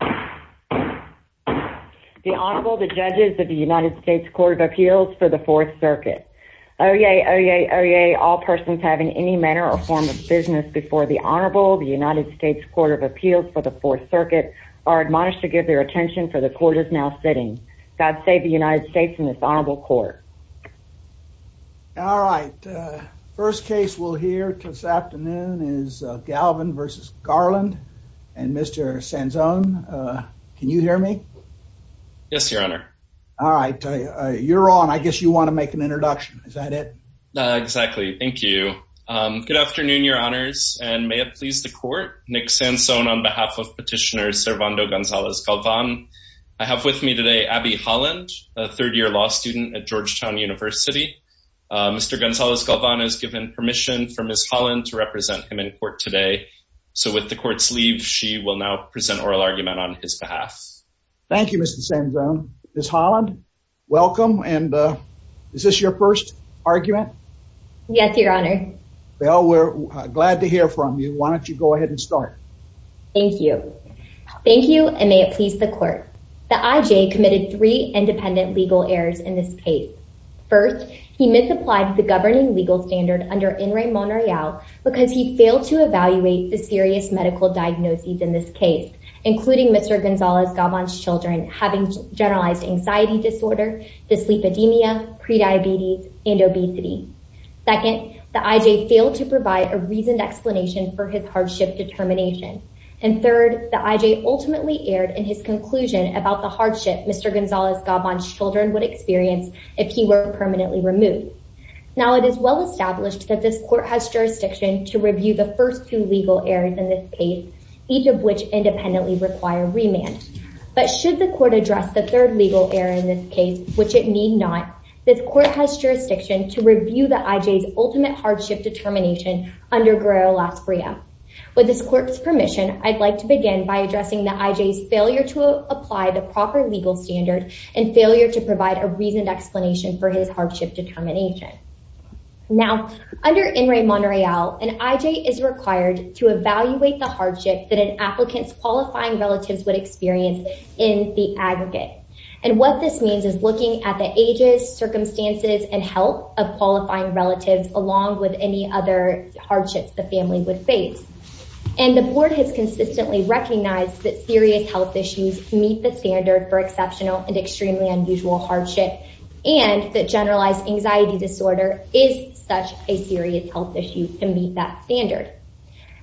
The Honorable, the Judges of the United States Court of Appeals for the Fourth Circuit. Oye, oye, oye, all persons having any manner or form of business before the Honorable, the United States Court of Appeals for the Fourth Circuit, are admonished to give their attention for the Court is now sitting. God save the United States and this Honorable Court. All right. First case we'll hear this afternoon is Galvan versus Garland and Mr. Sansone. Can you hear me? Yes, Your Honor. All right. You're on. I guess you want to make an introduction. Is that it? Exactly. Thank you. Good afternoon, Your Honors, and may it please the Court. Nick Sansone on behalf of Petitioner Servando Gonzalez Galvan. I have with me today Abby Holland, a third-year law student at Georgetown University. Mr. Gonzalez Galvan has given permission for Ms. Holland to represent him in court today. So with the Court's leave, she will now present oral argument on his behalf. Thank you, Mr. Sansone. Ms. Holland, welcome. And is this your first argument? Yes, Your Honor. Well, we're glad to hear from you. Why don't you go ahead and start? Thank you. Thank First, he misapplied the governing legal standard under Enri Monroyal because he failed to evaluate the serious medical diagnoses in this case, including Mr. Gonzalez Galvan's children having generalized anxiety disorder, dyslipidemia, prediabetes, and obesity. Second, the I.J. failed to provide a reasoned explanation for his hardship determination. And third, the I.J. ultimately erred in his if he were permanently removed. Now, it is well established that this Court has jurisdiction to review the first two legal errors in this case, each of which independently require remand. But should the Court address the third legal error in this case, which it need not, this Court has jurisdiction to review the I.J.'s ultimate hardship determination under Guerrero-Las Brias. With this Court's permission, I'd like to begin by addressing the I.J.'s failure to apply the proper legal standard and failure to provide a reasoned explanation for his hardship determination. Now, under Enri Monroyal, an I.J. is required to evaluate the hardship that an applicant's qualifying relatives would experience in the aggregate. And what this means is looking at the ages, circumstances, and health of qualifying relatives along with any other hardships the family would face. And the Board has consistently recognized that serious health issues meet the and extremely unusual hardship and that generalized anxiety disorder is such a serious health issue to meet that standard.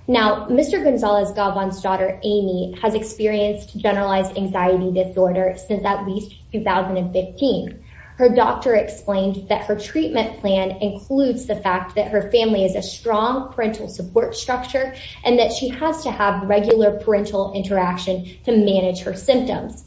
Now, Mr. Gonzalez-Gabon's daughter, Amy, has experienced generalized anxiety disorder since at least 2015. Her doctor explained that her treatment plan includes the fact that her family is a strong parental support structure and that she has to regular parental interaction to manage her symptoms.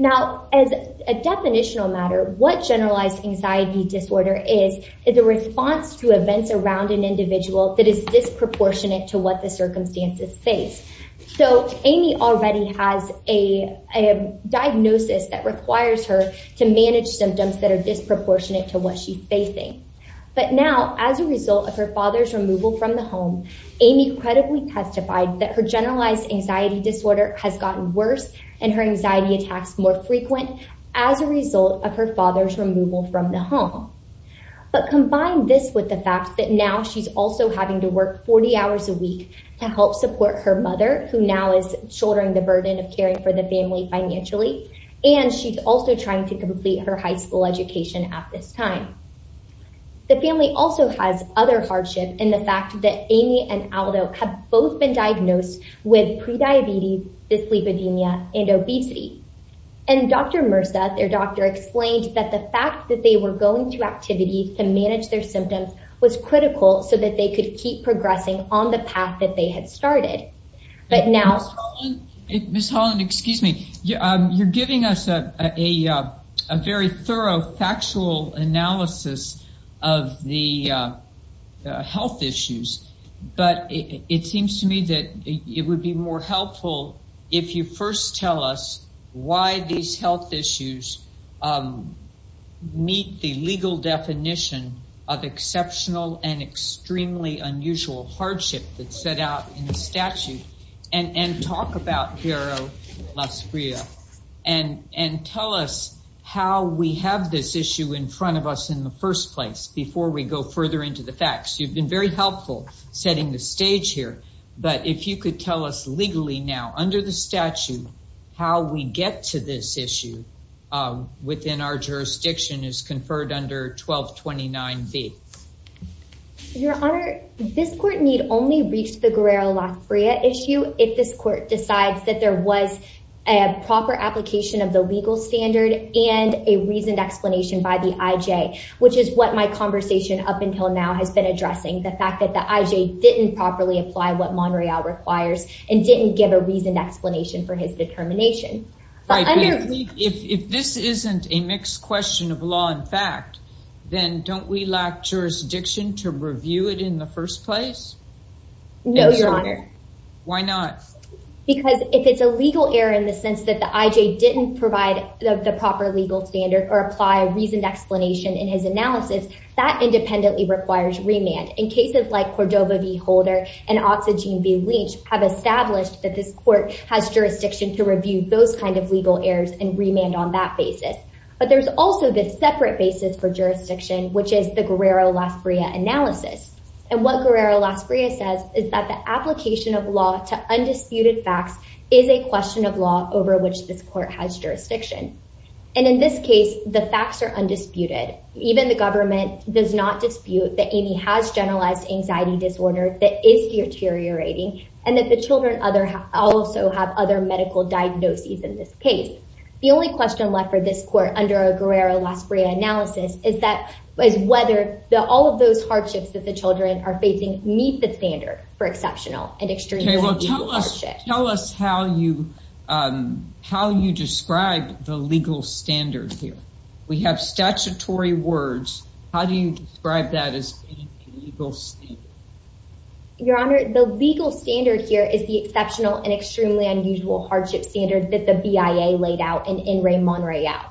Now, as a definitional matter, what generalized anxiety disorder is, is a response to events around an individual that is disproportionate to what the circumstances face. So, Amy already has a diagnosis that requires her to manage symptoms that are disproportionate to what she's facing. But now, as a result of her removal from the home, Amy credibly testified that her generalized anxiety disorder has gotten worse and her anxiety attacks more frequent as a result of her father's removal from the home. But combine this with the fact that now she's also having to work 40 hours a week to help support her mother, who now is shouldering the burden of caring for the family financially, and she's also trying to complete her high school education at this time. The family also has other hardship in the fact that Amy and Aldo have both been diagnosed with prediabetes, dyslipidemia, and obesity. And Dr. Mirza, their doctor, explained that the fact that they were going to activities to manage their symptoms was critical so that they could keep progressing on the path that they had started. But now... Ms. Holland, excuse me, you're giving us a very thorough factual analysis of the health issues, but it seems to me that it would be more helpful if you first tell us why these health issues meet the legal definition of exceptional and extremely unusual hardship that's set out in the statute, and talk about Guerrero-Las Brias, and tell us how we have this issue in front of us in the first place, before we go further into the facts. You've been very helpful setting the stage here, but if you could tell us legally now, under the statute, how we get to this issue within our jurisdiction as conferred under 1229B. Your Honor, this court need only reach the a proper application of the legal standard and a reasoned explanation by the IJ, which is what my conversation up until now has been addressing, the fact that the IJ didn't properly apply what Monreal requires and didn't give a reasoned explanation for his determination. If this isn't a mixed question of law and fact, then don't we lack jurisdiction to review it in the first place? No, Your Honor. Why not? Because if it's a legal error in the sense that the IJ didn't provide the proper legal standard or apply a reasoned explanation in his analysis, that independently requires remand. In cases like Cordova v. Holder and Oxygen v. Lynch have established that this court has jurisdiction to review those kind of legal errors and remand on that basis. But there's also this separate basis for jurisdiction, which is the Guerrero-Las Brias analysis. And what Guerrero-Las Brias says is that the application of law to undisputed facts is a question of law over which this court has jurisdiction. And in this case, the facts are undisputed. Even the government does not dispute that Amy has generalized anxiety disorder that is deteriorating and that the children also have other medical diagnoses in this case. The only question left for this court under a Guerrero-Las Brias analysis is that whether all of those hardships that the children are facing meet the standard for exceptional and extremely unusual hardship. Okay, well tell us how you describe the legal standard here. We have statutory words. How do you describe that as being a legal standard? Your Honor, the legal standard here is the exceptional and extremely unusual hardship standard that the BIA laid out in In Re Mon Re Out.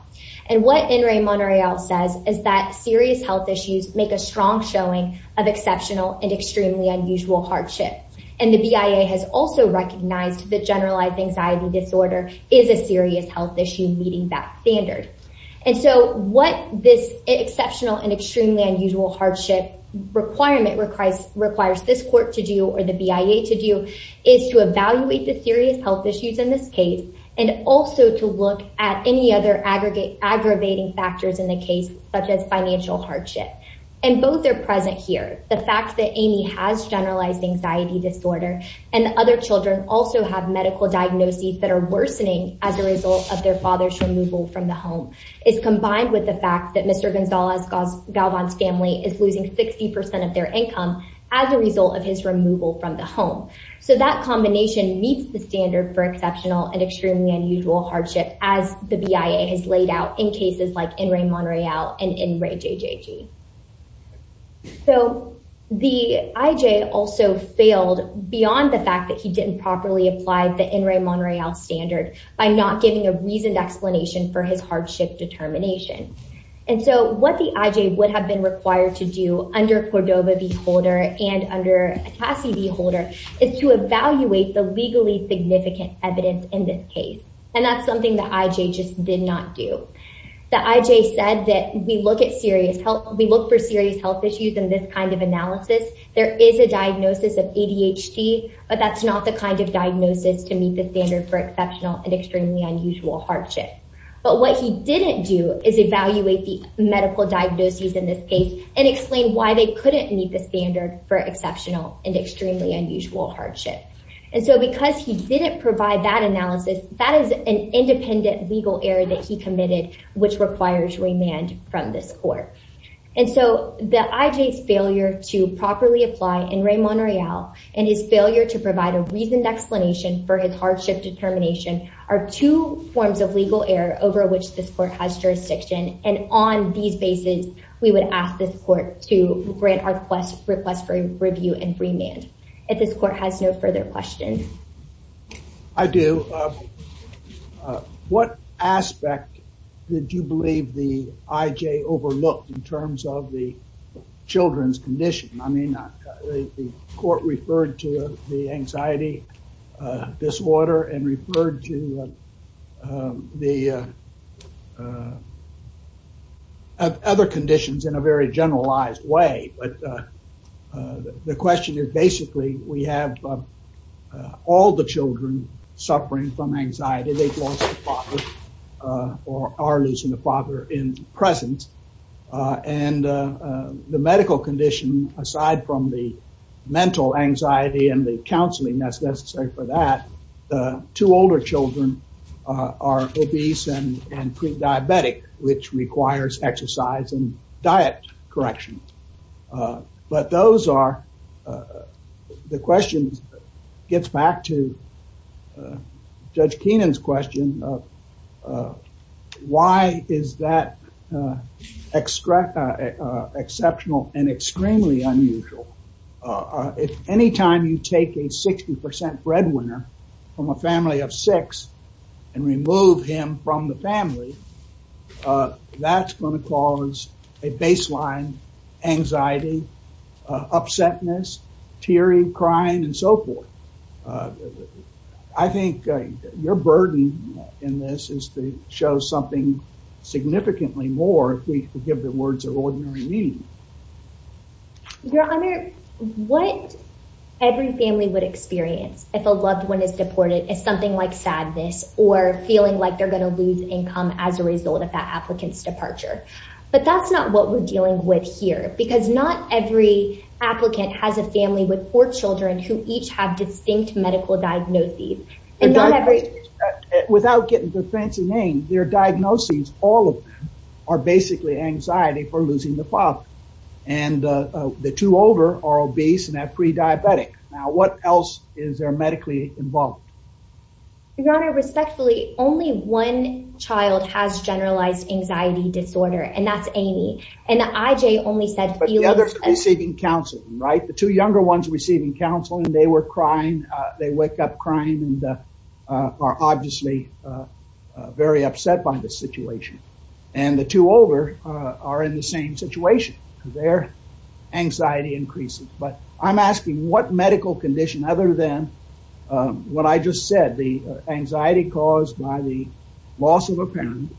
And what In Re Mon Re Out says is that serious health issues make a strong showing of exceptional and extremely unusual hardship. And the BIA has also recognized that generalized anxiety disorder is a serious health issue meeting that standard. And so what this exceptional and extremely unusual hardship requirement requires this court to do or the BIA to do is to evaluate the serious health issues in this case and also to look at any other aggravating factors in the case such as financial hardship. And both are present here. The fact that Amy has generalized anxiety disorder and other children also have medical diagnoses that are worsening as a result of their father's removal from the home is combined with the fact that Mr. income as a result of his removal from the home. So that combination meets the standard for exceptional and extremely unusual hardship as the BIA has laid out in cases like In Re Mon Re Out and In Re JJG. So the IJ also failed beyond the fact that he didn't properly apply the In Re Mon Re Out standard by not giving a reasoned explanation for his hardship determination. And so what the IJ would have been required to do under Cordova v. Holder and under Atassi v. Holder is to evaluate the legally significant evidence in this case. And that's something that IJ just did not do. The IJ said that we look for serious health issues in this kind of analysis. There is a diagnosis of ADHD, but that's not the kind of diagnosis to meet the standard for medical diagnosis in this case and explain why they couldn't meet the standard for exceptional and extremely unusual hardship. And so because he didn't provide that analysis, that is an independent legal error that he committed, which requires remand from this court. And so the IJ's failure to properly apply In Re Mon Re Out and his failure to provide a reasoned explanation for his jurisdiction. And on these basis, we would ask this court to grant our request for review and remand. If this court has no further questions. I do. What aspect did you believe the IJ overlooked in terms of the children's condition? I mean, the court referred to the anxiety disorder and referred to the other conditions in a very generalized way. But the question is, basically, we have all the children suffering from anxiety. They've lost a father or are losing a father in presence. And the medical condition, aside from the mental anxiety and the counseling that's necessary for that, two older children are obese and pre-diabetic, which requires exercise and diet correction. But those are the questions gets back to Judge Keenan's question of why is that exceptional and extremely unusual? Anytime you take a 60% breadwinner from a family of six and remove him from the family, that's going to cause a baseline anxiety, upsetness, tearing, crying, and so forth. I think your burden in this is to show something significantly more if we give the words of ordinary meaning. Your Honor, what every family would experience if a loved one is deported is something like sadness or feeling like they're going to lose income as a result of that applicant's departure. But that's not what we're dealing with here because not every applicant has a family with four children who each have distinct medical diagnoses. Without getting the fancy name, their diagnoses, all of them are basically anxiety for losing the father. And the two older are obese and have pre-diabetic. Now, what else is there medically involved? Your Honor, respectfully, only one child has generalized anxiety disorder, and that's Amy. And IJ only said- But the others are receiving counseling, right? The two younger ones are receiving counseling. They were crying. They wake up crying and are obviously very upset by the situation. And the two older are in the same situation because their anxiety increases. But I'm asking what medical condition other than what I just said, the anxiety caused by the loss of a parent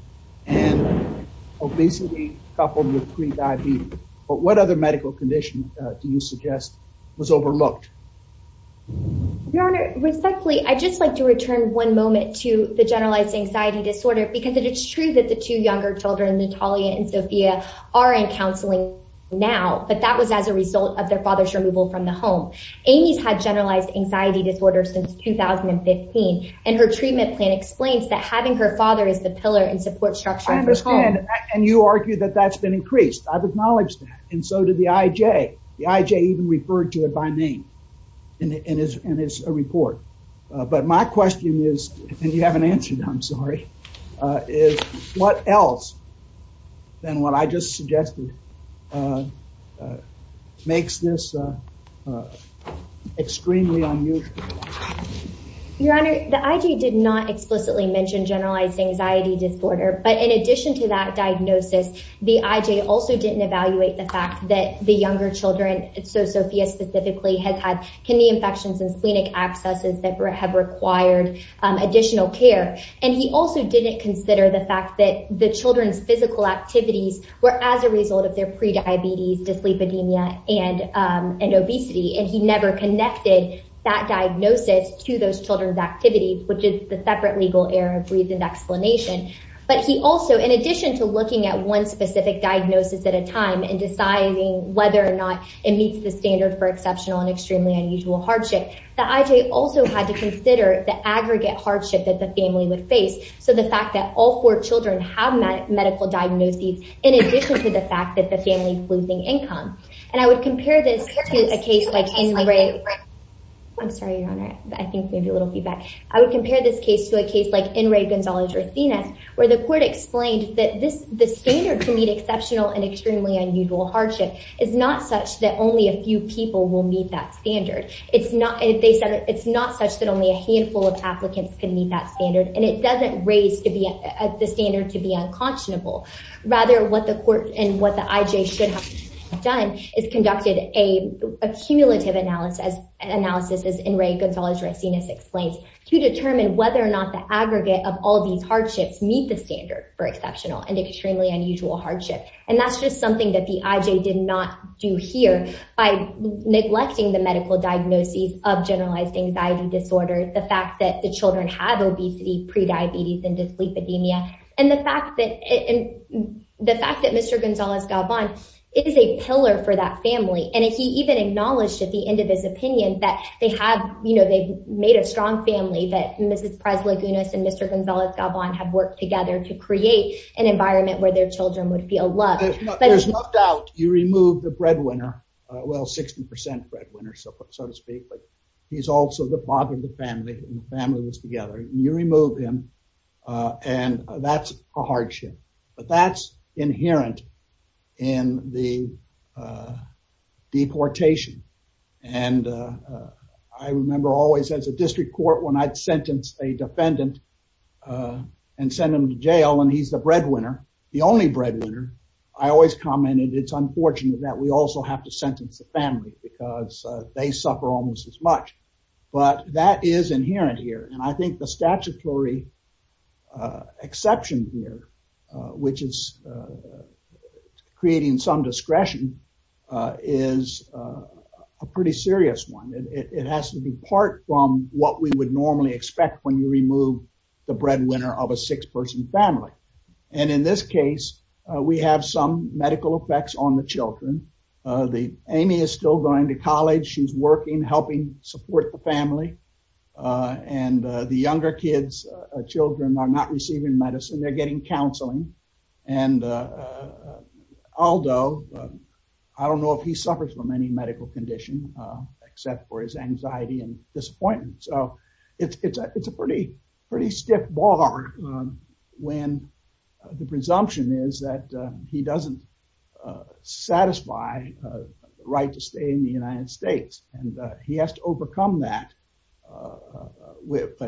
and obesity coupled with pre-diabetes. But what other medical condition do you suggest was overlooked? Your Honor, respectfully, I'd just like to return one moment to the generalized anxiety disorder because it is true that the two younger children, Natalia and Sophia, are in counseling now. But that was as a result of their father's removal from the home. Amy's had generalized anxiety disorder since 2015. And her treatment plan explains that having her father is the pillar and support structure of the home. I understand. And you argue that that's been increased. I've acknowledged that. And so did the IJ. The IJ even referred to it by name in his report. But my question is, and you haven't answered, I'm sorry, is what else than what I just suggested makes this extremely unusual? Your Honor, the IJ did not explicitly mention generalized anxiety disorder. But in addition to that diagnosis, the IJ also didn't evaluate the fact that the younger children, Sophia specifically, has had kidney infections and splenic abscesses that have required additional care. And he also didn't consider the fact that the children's physical activities were as a result of their pre-diabetes, dyslipidemia, and obesity. And he never connected that diagnosis to those children's activities, which is the separate legal error of reasoned explanation. But he also, in addition to looking at one specific diagnosis at a time and deciding whether or not it meets the standard for exceptional and extremely unusual hardship, the IJ also had to consider the aggregate hardship that the family would face. So the fact that all four children have medical diagnoses, in addition to the fact that the family is losing income. And I would compare this to a case like N. Ray. I'm sorry, Your Honor. I the court explained that the standard to meet exceptional and extremely unusual hardship is not such that only a few people will meet that standard. It's not, they said, it's not such that only a handful of applicants can meet that standard. And it doesn't raise the standard to be unconscionable. Rather, what the court and what the IJ should have done is conducted a cumulative analysis, as N. Ray Gonzalez-Racinus explains, to determine whether or not the aggregate of all these hardships meet the standard for exceptional and extremely unusual hardship. And that's just something that the IJ did not do here by neglecting the medical diagnoses of generalized anxiety disorders, the fact that the children have obesity, pre-diabetes and dyslipidemia. And the fact that, and the fact that Mr. Gonzalez-Galban is a pillar for that family. And he even acknowledged at the end of his opinion that they have, you know, made a strong family, that Mrs. Prez-Lagunas and Mr. Gonzalez-Galban have worked together to create an environment where their children would feel loved. There's no doubt you remove the breadwinner, well, 60% breadwinner, so to speak, but he's also the father of the family and the family lives together. You remove him and that's a hardship, but that's inherent in the district court. When I'd sentence a defendant and send him to jail and he's the breadwinner, the only breadwinner, I always commented, it's unfortunate that we also have to sentence the family because they suffer almost as much, but that is inherent here. And I think the statutory exception here, which is creating some discretion is a pretty serious one. It has to be part what we would normally expect when you remove the breadwinner of a six-person family. And in this case, we have some medical effects on the children. Amy is still going to college. She's working, helping support the family. And the younger kids, children are not receiving medicine. They're getting counseling. And Aldo, I don't know if he suffers from any medical condition except for his anxiety and disappointment. So it's a pretty stiff bar when the presumption is that he doesn't satisfy the right to stay in the United States and he has to overcome that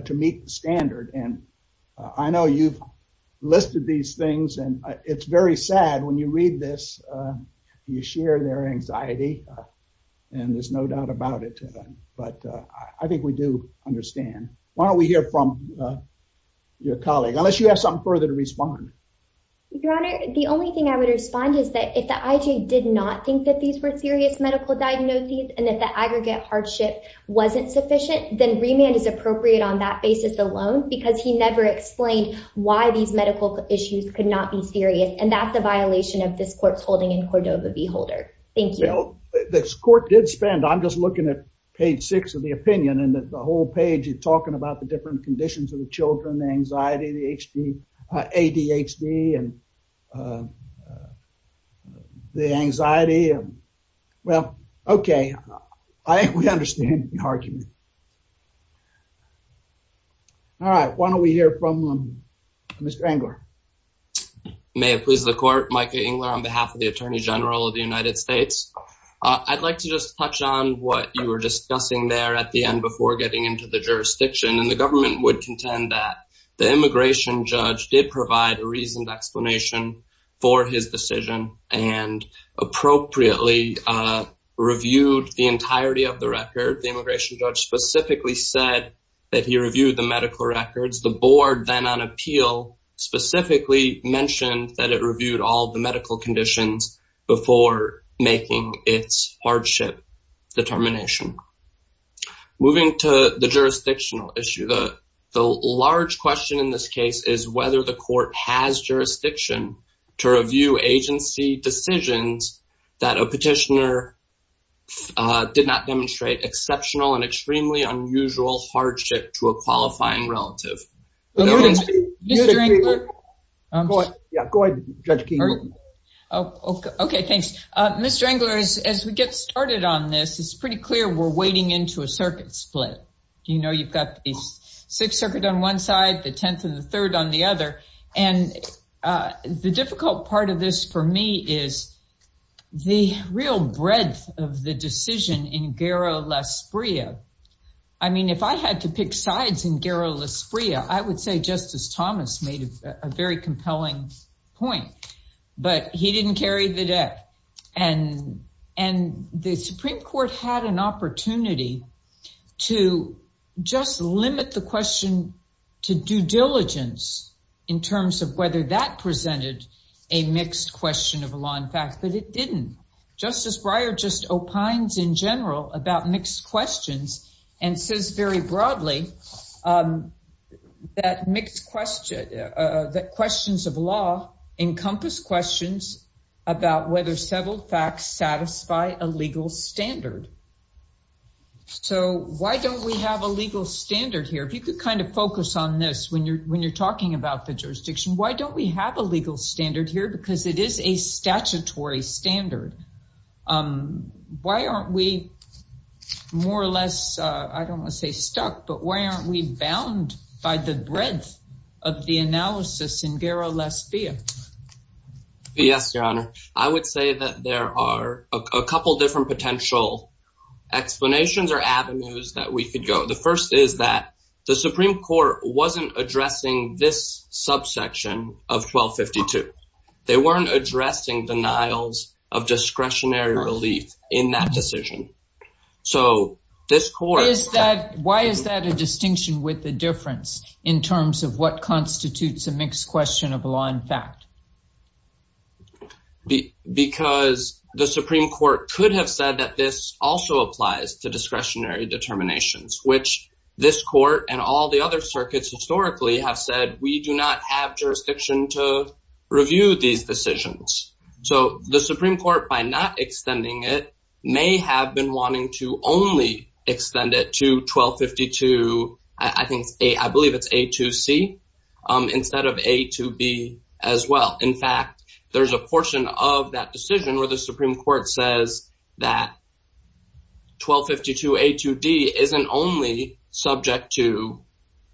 to meet the standard. And I know you've listed these things and it's very sad when you read this, you share their anxiety and there's no doubt about it. But I think we do understand. Why don't we hear from your colleague, unless you have something further to respond. Your Honor, the only thing I would respond is that if the IJ did not think that these were serious medical diagnoses and that the aggregate hardship wasn't sufficient, then remand is appropriate on that basis alone because he never explained why these medical issues could not be serious. And that's a violation of this court's holding in Cordova v. Holder. Thank you. This court did spend, I'm just looking at page six of the opinion and the whole page is talking about the different conditions of the children, the anxiety, the ADHD and the anxiety. Well, okay. I understand the argument. All right. Why don't we hear from Mr. Engler? May it please the court, Micah Engler on behalf of the Attorney General of the United States. I'd like to just touch on what you were discussing there at the end before getting into the jurisdiction. And the government would contend that the immigration judge did provide a reasoned explanation for his decision and appropriately reviewed the entirety of the record. The immigration judge specifically said that he reviewed the medical records. The board then on it reviewed all the medical conditions before making its hardship determination. Moving to the jurisdictional issue, the large question in this case is whether the court has jurisdiction to review agency decisions that a petitioner did not demonstrate exceptional and Judge King. Okay. Thanks. Mr. Engler, as we get started on this, it's pretty clear we're wading into a circuit split. You know, you've got six circuit on one side, the 10th and the third on the other. And the difficult part of this for me is the real breadth of the decision in Guerra-Lasprilla. I mean, if I had to pick sides in Guerra-Lasprilla, I would say Justice Breyer had a compelling point, but he didn't carry the deck. And the Supreme Court had an opportunity to just limit the question to due diligence in terms of whether that presented a mixed question of law and fact, but it didn't. Justice Breyer just opines in general about mixed questions and says very broadly that questions of law encompass questions about whether several facts satisfy a legal standard. So why don't we have a legal standard here? If you could kind of focus on this when you're talking about the jurisdiction, why don't we have a legal standard here? Because it is a statutory standard. Why aren't we more or less, I don't want to say stuck, but why aren't we bound by the breadth of the analysis in Guerra-Lasprilla? Yes, Your Honor. I would say that there are a couple of different potential explanations or avenues that we could go. The first is that the Supreme Court wasn't addressing this subsection of 1252. They weren't addressing denials of discretionary relief in that decision. So this court... Why is that a distinction with the difference in terms of what constitutes a mixed question of law and fact? Because the Supreme Court could have said that this also applies to discretionary determinations, which this court and all the other circuits historically have said, we do not have jurisdiction to review these decisions. So the Supreme Court, by not extending it, may have been wanting to only extend it to 1252, I believe it's A2C, instead of A2B as well. In fact, there's a portion of that decision where the Supreme Court says that 1252A2D isn't only subject to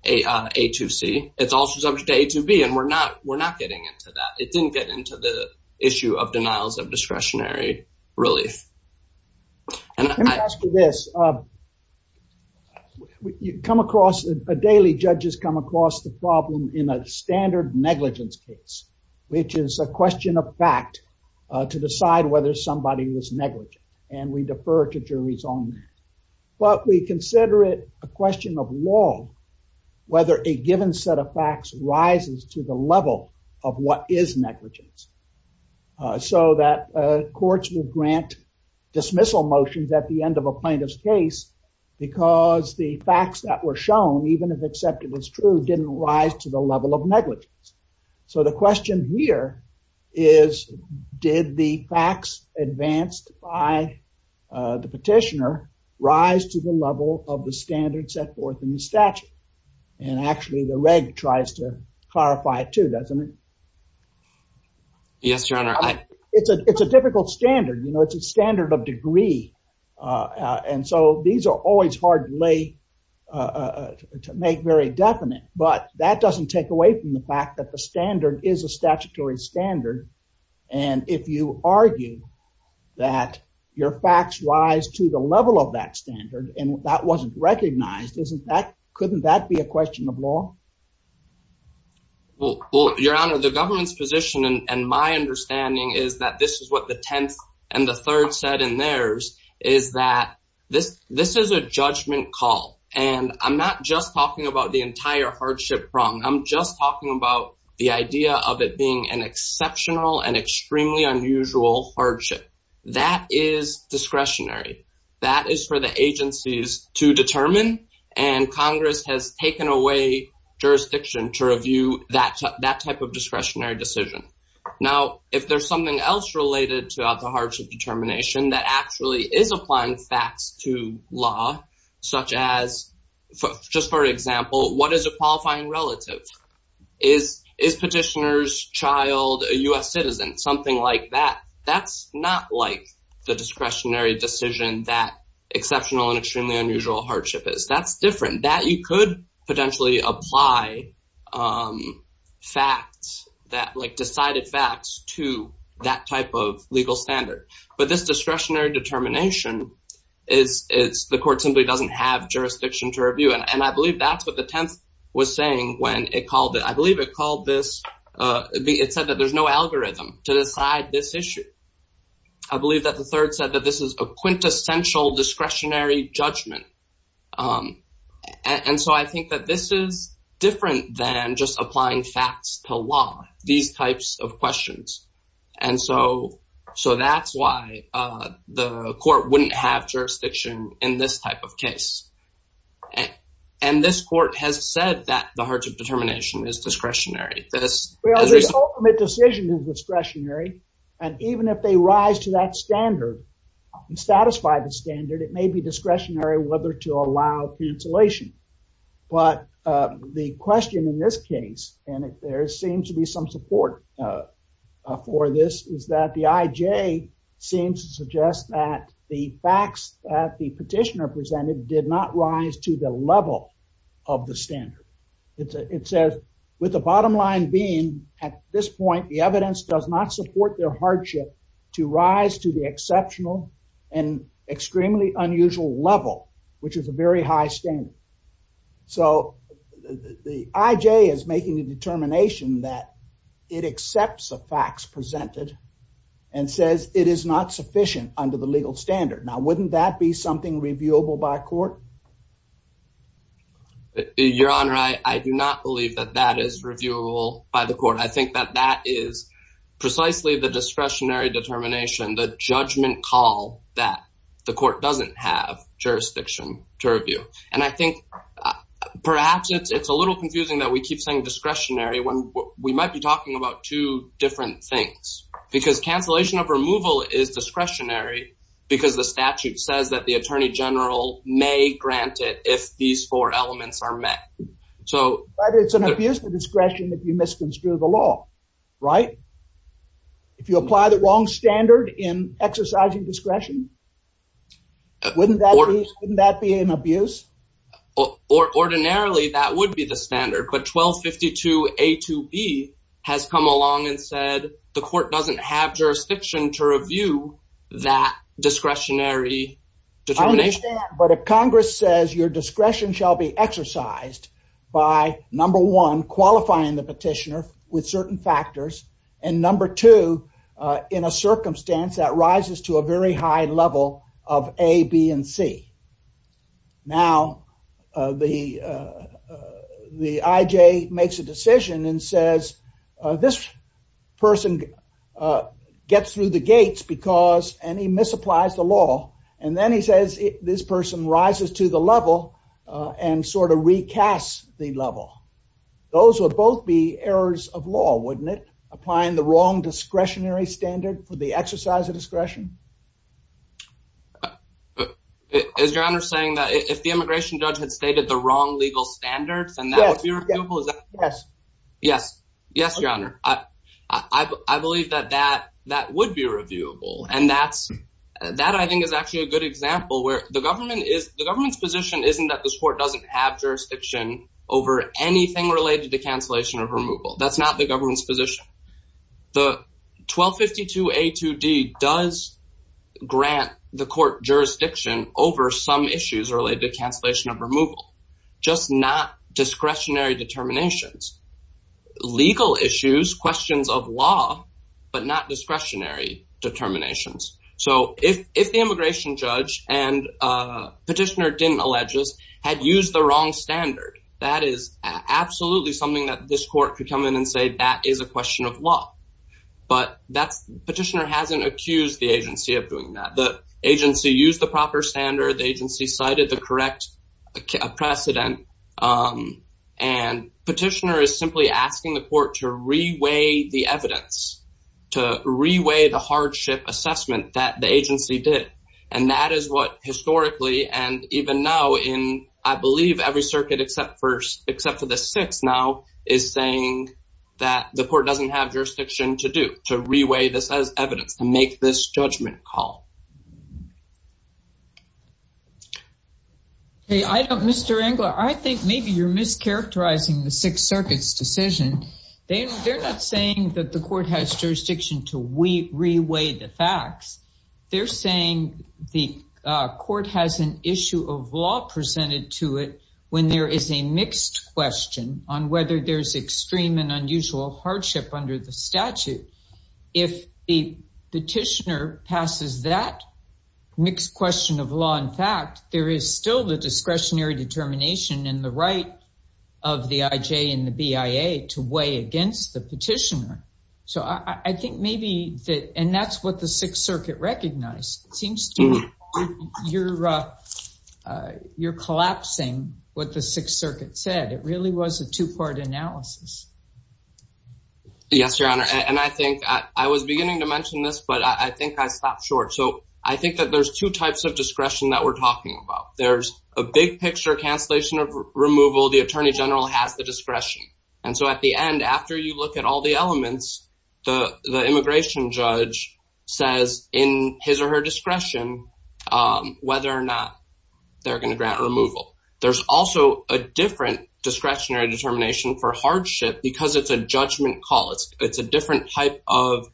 A2C, it's also subject to A2B, and we're not getting into that. It didn't get into the issue of denials of discretionary relief. Let me ask you this. Daily judges come across the problem in a standard negligence case, which is a question of fact to decide whether somebody was negligent, and we defer to juries on that. But we consider it a question of law, whether a given set of facts rises to the level of what is negligence. So that courts will grant dismissal motions at the end of a plaintiff's case, because the facts that were shown, even if accepted as true, didn't rise to the level negligence. So the question here is, did the facts advanced by the petitioner rise to the level of the standard set forth in the statute? And actually, the reg tries to clarify it too, doesn't it? Yes, Your Honor. It's a difficult standard, you know, it's a standard of degree. And so these are always hard to make very definite, but that doesn't take away from the fact that the standard is a statutory standard. And if you argue that your facts rise to the level of that standard and that wasn't recognized, couldn't that be a question of law? Well, Your Honor, the government's position and my understanding is that this is what the 10th and the third set in theirs is that this is a judgment call. And I'm not just talking about the entire hardship prong, I'm just talking about the idea of it being an exceptional and extremely unusual hardship. That is discretionary. That is for the agencies to determine. And Congress has taken away jurisdiction to review that type of discretionary decision. Now, if there's something else related to the hardship determination that actually is applying facts to law, such as, just for example, what is a qualifying relative? Is petitioner's child a U.S. citizen? Something like that. That's not like the discretionary decision that exceptional and extremely unusual hardship is. That's different. That you could potentially apply facts that like decided facts to that type of legal standard. But this discretionary determination is the court simply doesn't have jurisdiction to review. And I believe that's what the 10th was saying when it called it, I believe it called this, it said that there's no algorithm to decide this issue. I believe that the third said that this is a quintessential discretionary judgment. And so I think that this is different than just applying facts to law, these types of questions. And so that's why the court wouldn't have jurisdiction in this type of case. And this court has said that the hardship determination is discretionary. This ultimate decision is discretionary. And even if they rise to that standard and satisfy the standard, it may be discretionary whether to allow cancellation. But the question in this case, and there seems to be some support for this is that the IJ seems to suggest that the facts that the petitioner presented did not rise to the level of the standard. It says, with the bottom line being at this point, the evidence does not support their hardship to rise to the exceptional and extremely unusual level, which is a very high standard. So the IJ is making a determination that it accepts the facts presented and says it is not sufficient under the legal standard. Now, wouldn't that be something reviewable by court? Your Honor, I do not believe that that is reviewable by the court. I think that that is precisely the discretionary determination, the judgment call that the court doesn't have jurisdiction to review. And I think perhaps it's a little confusing that we keep saying discretionary when we might be talking about two different things. Because cancellation of removal is discretionary because the statute says that the attorney general may grant it if these four elements are met. But it's an abuse of discretion if you misconstrue the law, right? If you apply the wrong standard in exercising discretion, wouldn't that be an abuse? Ordinarily, that would be the standard. But 1252A2B has come along and said the court doesn't have jurisdiction to review that discretionary determination. I understand, but if Congress says your discretion shall be exercised by number one, qualifying the petitioner with certain factors, and number two, in a circumstance that rises to a very high level of A, B, and C. Now, the IJ makes a decision and this person gets through the gates because, and he misapplies the law. And then he says this person rises to the level and sort of recasts the level. Those would both be errors of law, wouldn't it? Applying the wrong discretionary standard for the exercise of discretion. Is your honor saying that if the immigration judge had stated the wrong legal standards, then that would be reviewable? Yes. Yes, your honor. I believe that that would be reviewable. And that I think is actually a good example where the government's position isn't that this court doesn't have jurisdiction over anything related to cancellation of removal. That's not the government's position. The 1252A2B does grant the court jurisdiction over some issues related to cancellation of removal, just not discretionary determinations. Legal issues, questions of law, but not discretionary determinations. So if the immigration judge and petitioner didn't allege this, had used the wrong standard, that is absolutely something that this court could come in and say that is a question of law. But that's, petitioner hasn't accused the agency of doing that. The agency used the proper standard. The agency cited the correct precedent. And petitioner is simply asking the court to reweigh the evidence, to reweigh the hardship assessment that the agency did. And that is what historically and even now in, I believe every circuit except for the six now is saying that the court doesn't have jurisdiction to do, to reweigh this as evidence, to make this a case. Hey, I don't, Mr. Engler, I think maybe you're mischaracterizing the Sixth Circuit's decision. They're not saying that the court has jurisdiction to reweigh the facts. They're saying the court has an issue of law presented to it when there is a mixed question on whether there's extreme and mixed question of law. In fact, there is still the discretionary determination and the right of the IJ and the BIA to weigh against the petitioner. So I think maybe that, and that's what the Sixth Circuit recognized. It seems to me you're, you're collapsing what the Sixth Circuit said. It really was a two-part analysis. Yes, Your Honor. And I think I was beginning to mention this, but I think I stopped short. So I think that there's two types of discretion that we're talking about. There's a big picture cancellation of removal. The attorney general has the discretion. And so at the end, after you look at all the elements, the immigration judge says in his or her discretion, whether or not they're going to grant removal. There's also a different discretionary determination for hardship because it's a judgment call. It's a different type of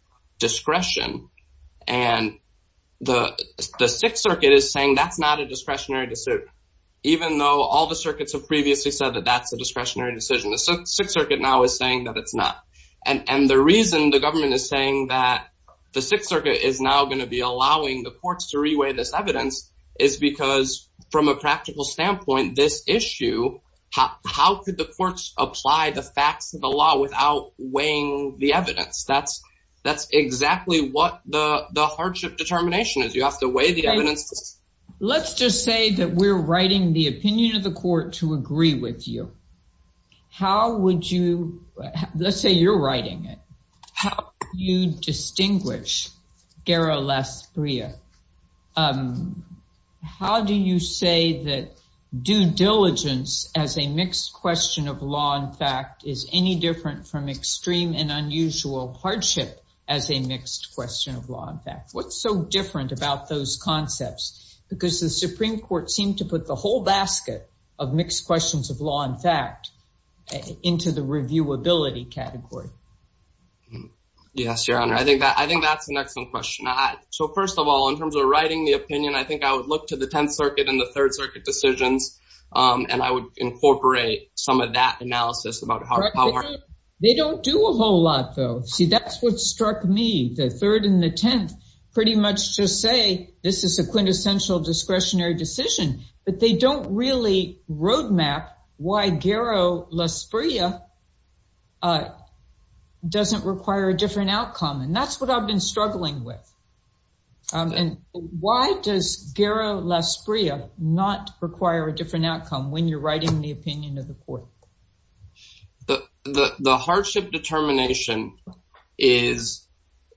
And the Sixth Circuit is saying that's not a discretionary decision, even though all the circuits have previously said that that's a discretionary decision. The Sixth Circuit now is saying that it's not. And the reason the government is saying that the Sixth Circuit is now going to be allowing the courts to re-weigh this evidence is because from a practical standpoint, this issue, how could the courts apply the facts of the law without weighing the evidence? That's exactly what the hardship determination is. You have to weigh the evidence. Let's just say that we're writing the opinion of the court to agree with you. How would you, let's say you're writing it. How do you distinguish Gara-Lasbria? How do you say that due diligence as a mixed question of law and fact is any different from a mixed question of law and fact? What's so different about those concepts? Because the Supreme Court seemed to put the whole basket of mixed questions of law and fact into the reviewability category. Yes, Your Honor. I think that's an excellent question. So first of all, in terms of writing the opinion, I think I would look to the Tenth Circuit and the Third Circuit decisions. And I would incorporate some of that analysis about how. They don't do a whole lot, see, that's what struck me. The Third and the Tenth pretty much just say this is a quintessential discretionary decision, but they don't really roadmap why Gara-Lasbria doesn't require a different outcome. And that's what I've been struggling with. And why does Gara-Lasbria not require a different outcome when you're writing the opinion of the court? Well, the hardship determination is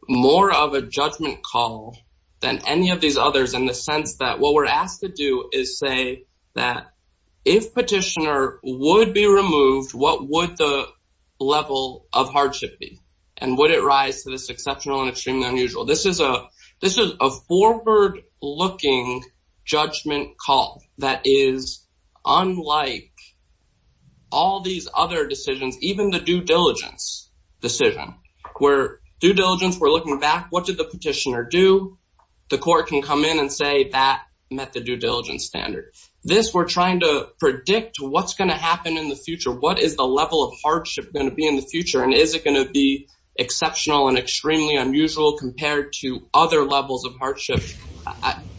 more of a judgment call than any of these others in the sense that what we're asked to do is say that if petitioner would be removed, what would the level of hardship be? And would it rise to this exceptional and extremely unusual? This is a forward-looking judgment call that is unlike all these other decisions, even the due diligence decision, where due diligence, we're looking back, what did the petitioner do? The court can come in and say that met the due diligence standard. This, we're trying to predict what's going to happen in the future. What is the level of hardship going to be in the future? And is it going to be exceptional and extremely unusual compared to other levels of hardship?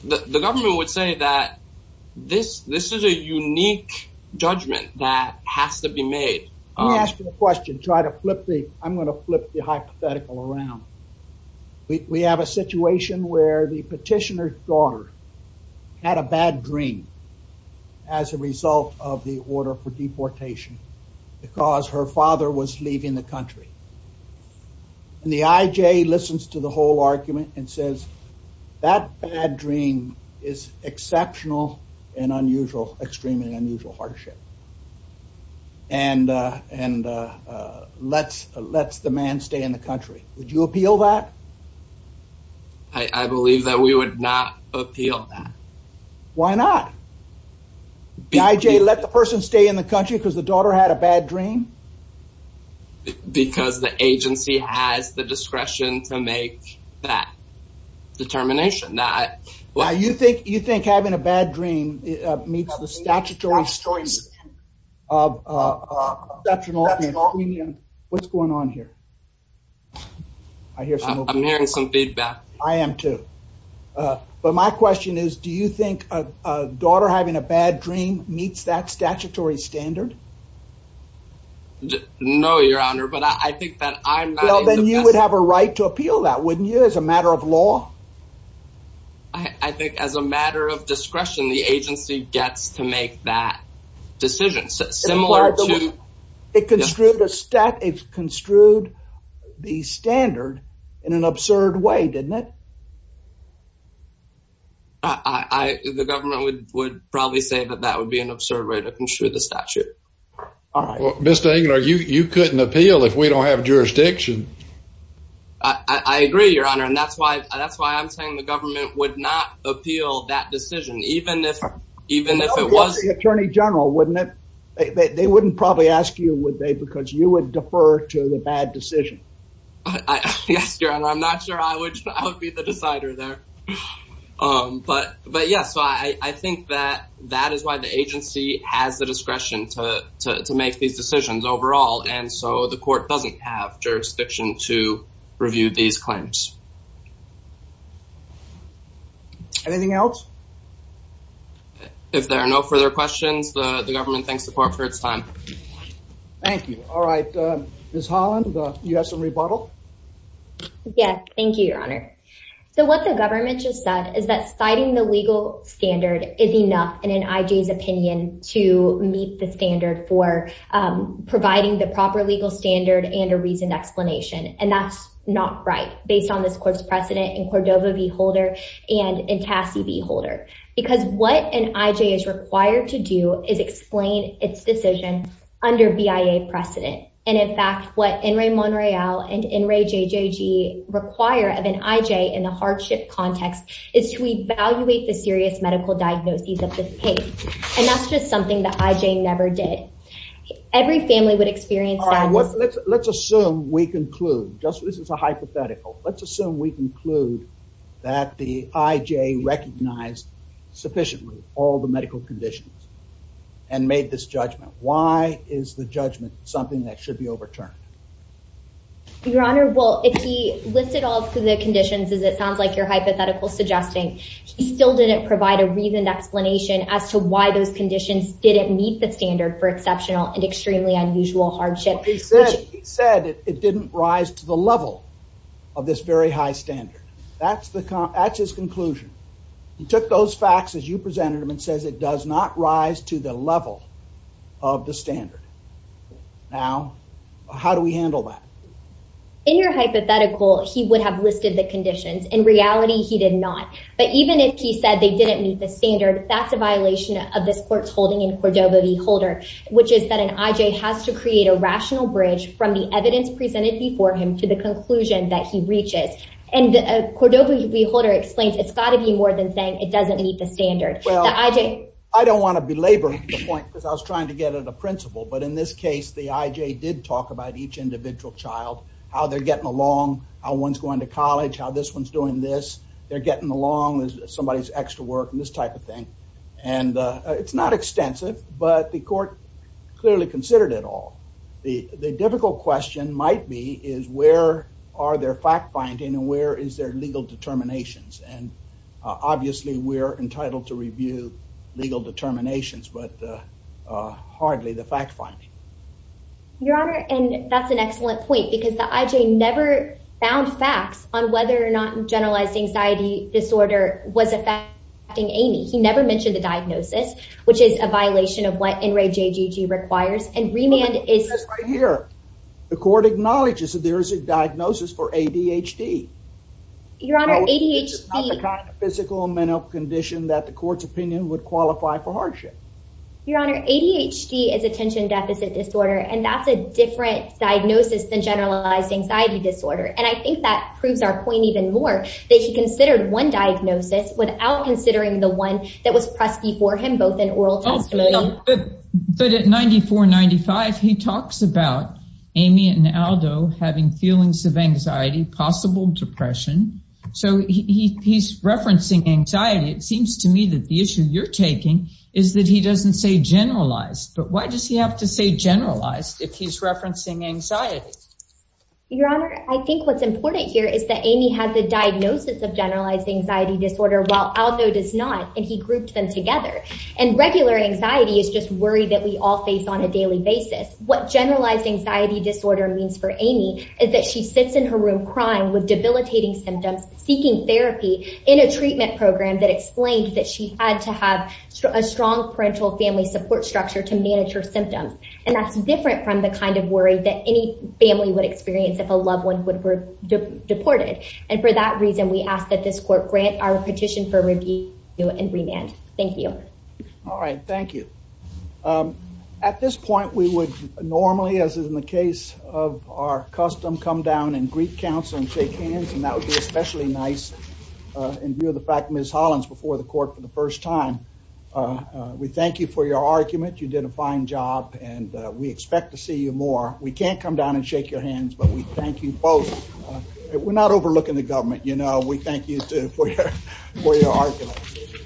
The government would say that this is a unique judgment that has to be made. Let me ask you a question, try to flip the, I'm going to flip the hypothetical around. We have a situation where the petitioner's daughter had a bad dream as a result of the order for deportation because her father was leaving the country. And the IJ listens to the whole argument and says, that bad dream is exceptional and unusual, extremely unusual hardship. And lets the man stay in the country. Would you appeal that? I believe that we would not appeal that. Why not? IJ let the person stay in the country because the daughter had a bad dream? Because the agency has the discretion to make that determination. Now you think having a bad dream meets the statutory standards of exceptional What's going on here? I'm hearing some feedback. I am too. But my question is, do you think a daughter having a bad dream meets that statutory standard? No, your honor, but I think that I'm- Well, then you would have a right to appeal that wouldn't you as a matter of law? I think as a matter of discretion, the agency gets to make that decision similar to- It construed the standard in an absurd way, didn't it? The government would probably say that that would be an absurd way to construe the statute. All right. Mr. Engler, you couldn't appeal if we don't have jurisdiction. I agree, your honor. And that's why I'm saying the government would not even if it was- The attorney general, wouldn't it? They wouldn't probably ask you, would they? Because you would defer to the bad decision. Yes, your honor. I'm not sure I would be the decider there. But yes, I think that that is why the agency has the discretion to make these decisions overall. And so the court doesn't have jurisdiction to review these claims. Anything else? If there are no further questions, the government thanks the court for its time. Thank you. All right. Ms. Holland, you have some rebuttal? Yes. Thank you, your honor. So what the government just said is that citing the legal standard is enough in an IG's opinion to meet the standard for providing the proper legal standard and a reasonable explanation. And that's not right based on this court's precedent in Cordova v. Holder and in Tassie v. Holder. Because what an IJ is required to do is explain its decision under BIA precedent. And in fact, what Enri Monreal and Enri JJG require of an IJ in the hardship context is to evaluate the serious medical diagnoses of the case. And that's just IJ never did. Every family would experience that. Let's assume we conclude just this is a hypothetical. Let's assume we conclude that the IJ recognized sufficiently all the medical conditions and made this judgment. Why is the judgment something that should be overturned? Your honor, well, if he listed all the conditions as it sounds like your hypothetical suggesting, he still didn't provide a reasoned explanation as to why those conditions didn't meet the standard for exceptional and extremely unusual hardship. He said it didn't rise to the level of this very high standard. That's his conclusion. He took those facts as you presented them and says it does not rise to the level of the standard. Now, how do we handle that? In your hypothetical, he would have listed the conditions. In reality, he did not. But even if he said they didn't meet the standard, that's a violation of this court's holding in Cordova v. Holder, which is that an IJ has to create a rational bridge from the evidence presented before him to the conclusion that he reaches. And Cordova v. Holder explains it's got to be more than saying it doesn't meet the standard. I don't want to belabor the point because I was trying to get at a principle. But in this case, the IJ did talk about each individual child, how they're getting along, how one's going to college, how this one's doing this. They're getting along with somebody's extra work and this type of thing. And it's not extensive, but the court clearly considered it all. The difficult question might be is where are their fact-finding and where is their legal determinations? And obviously, we're entitled to review legal determinations, but hardly the fact-finding. Your Honor, and that's an excellent point because the IJ never found facts on whether or not generalized anxiety disorder was affecting Amy. He never mentioned the diagnosis, which is a violation of what NRAJGG requires. And remand is... That's right here. The court acknowledges that there is a diagnosis for ADHD. Your Honor, ADHD... It's not the kind of physical and mental condition that the court's opinion would qualify for hardship. Your Honor, ADHD is attention deficit disorder, and that's a different diagnosis than generalized anxiety disorder. And I think that proves our point even more that he considered one diagnosis without considering the one that was presky for him, both in oral testimony... But at 94-95, he talks about Amy and Aldo having feelings of anxiety, possible depression. So he's referencing anxiety. It seems to me that the issue you're taking is that he doesn't say generalized if he's referencing anxiety. Your Honor, I think what's important here is that Amy had the diagnosis of generalized anxiety disorder while Aldo does not, and he grouped them together. And regular anxiety is just worry that we all face on a daily basis. What generalized anxiety disorder means for Amy is that she sits in her room crying with debilitating symptoms, seeking therapy in a treatment program that explained that she had to have a strong parental family support structure to manage her symptoms. And that's different from the kind of worry that any family would experience if a loved one were deported. And for that reason, we ask that this court grant our petition for review and remand. Thank you. All right. Thank you. At this point, we would normally, as in the case of our custom, come down and greet counsel and shake hands. And that would be especially nice in view of the fact that Ms. Holland's before the court for the first time. We thank you for your argument. You did a fine job, and we expect to see you more. We can't come down and shake your hands, but we thank you both. We're not overlooking the government, you know. We thank you too for your argument.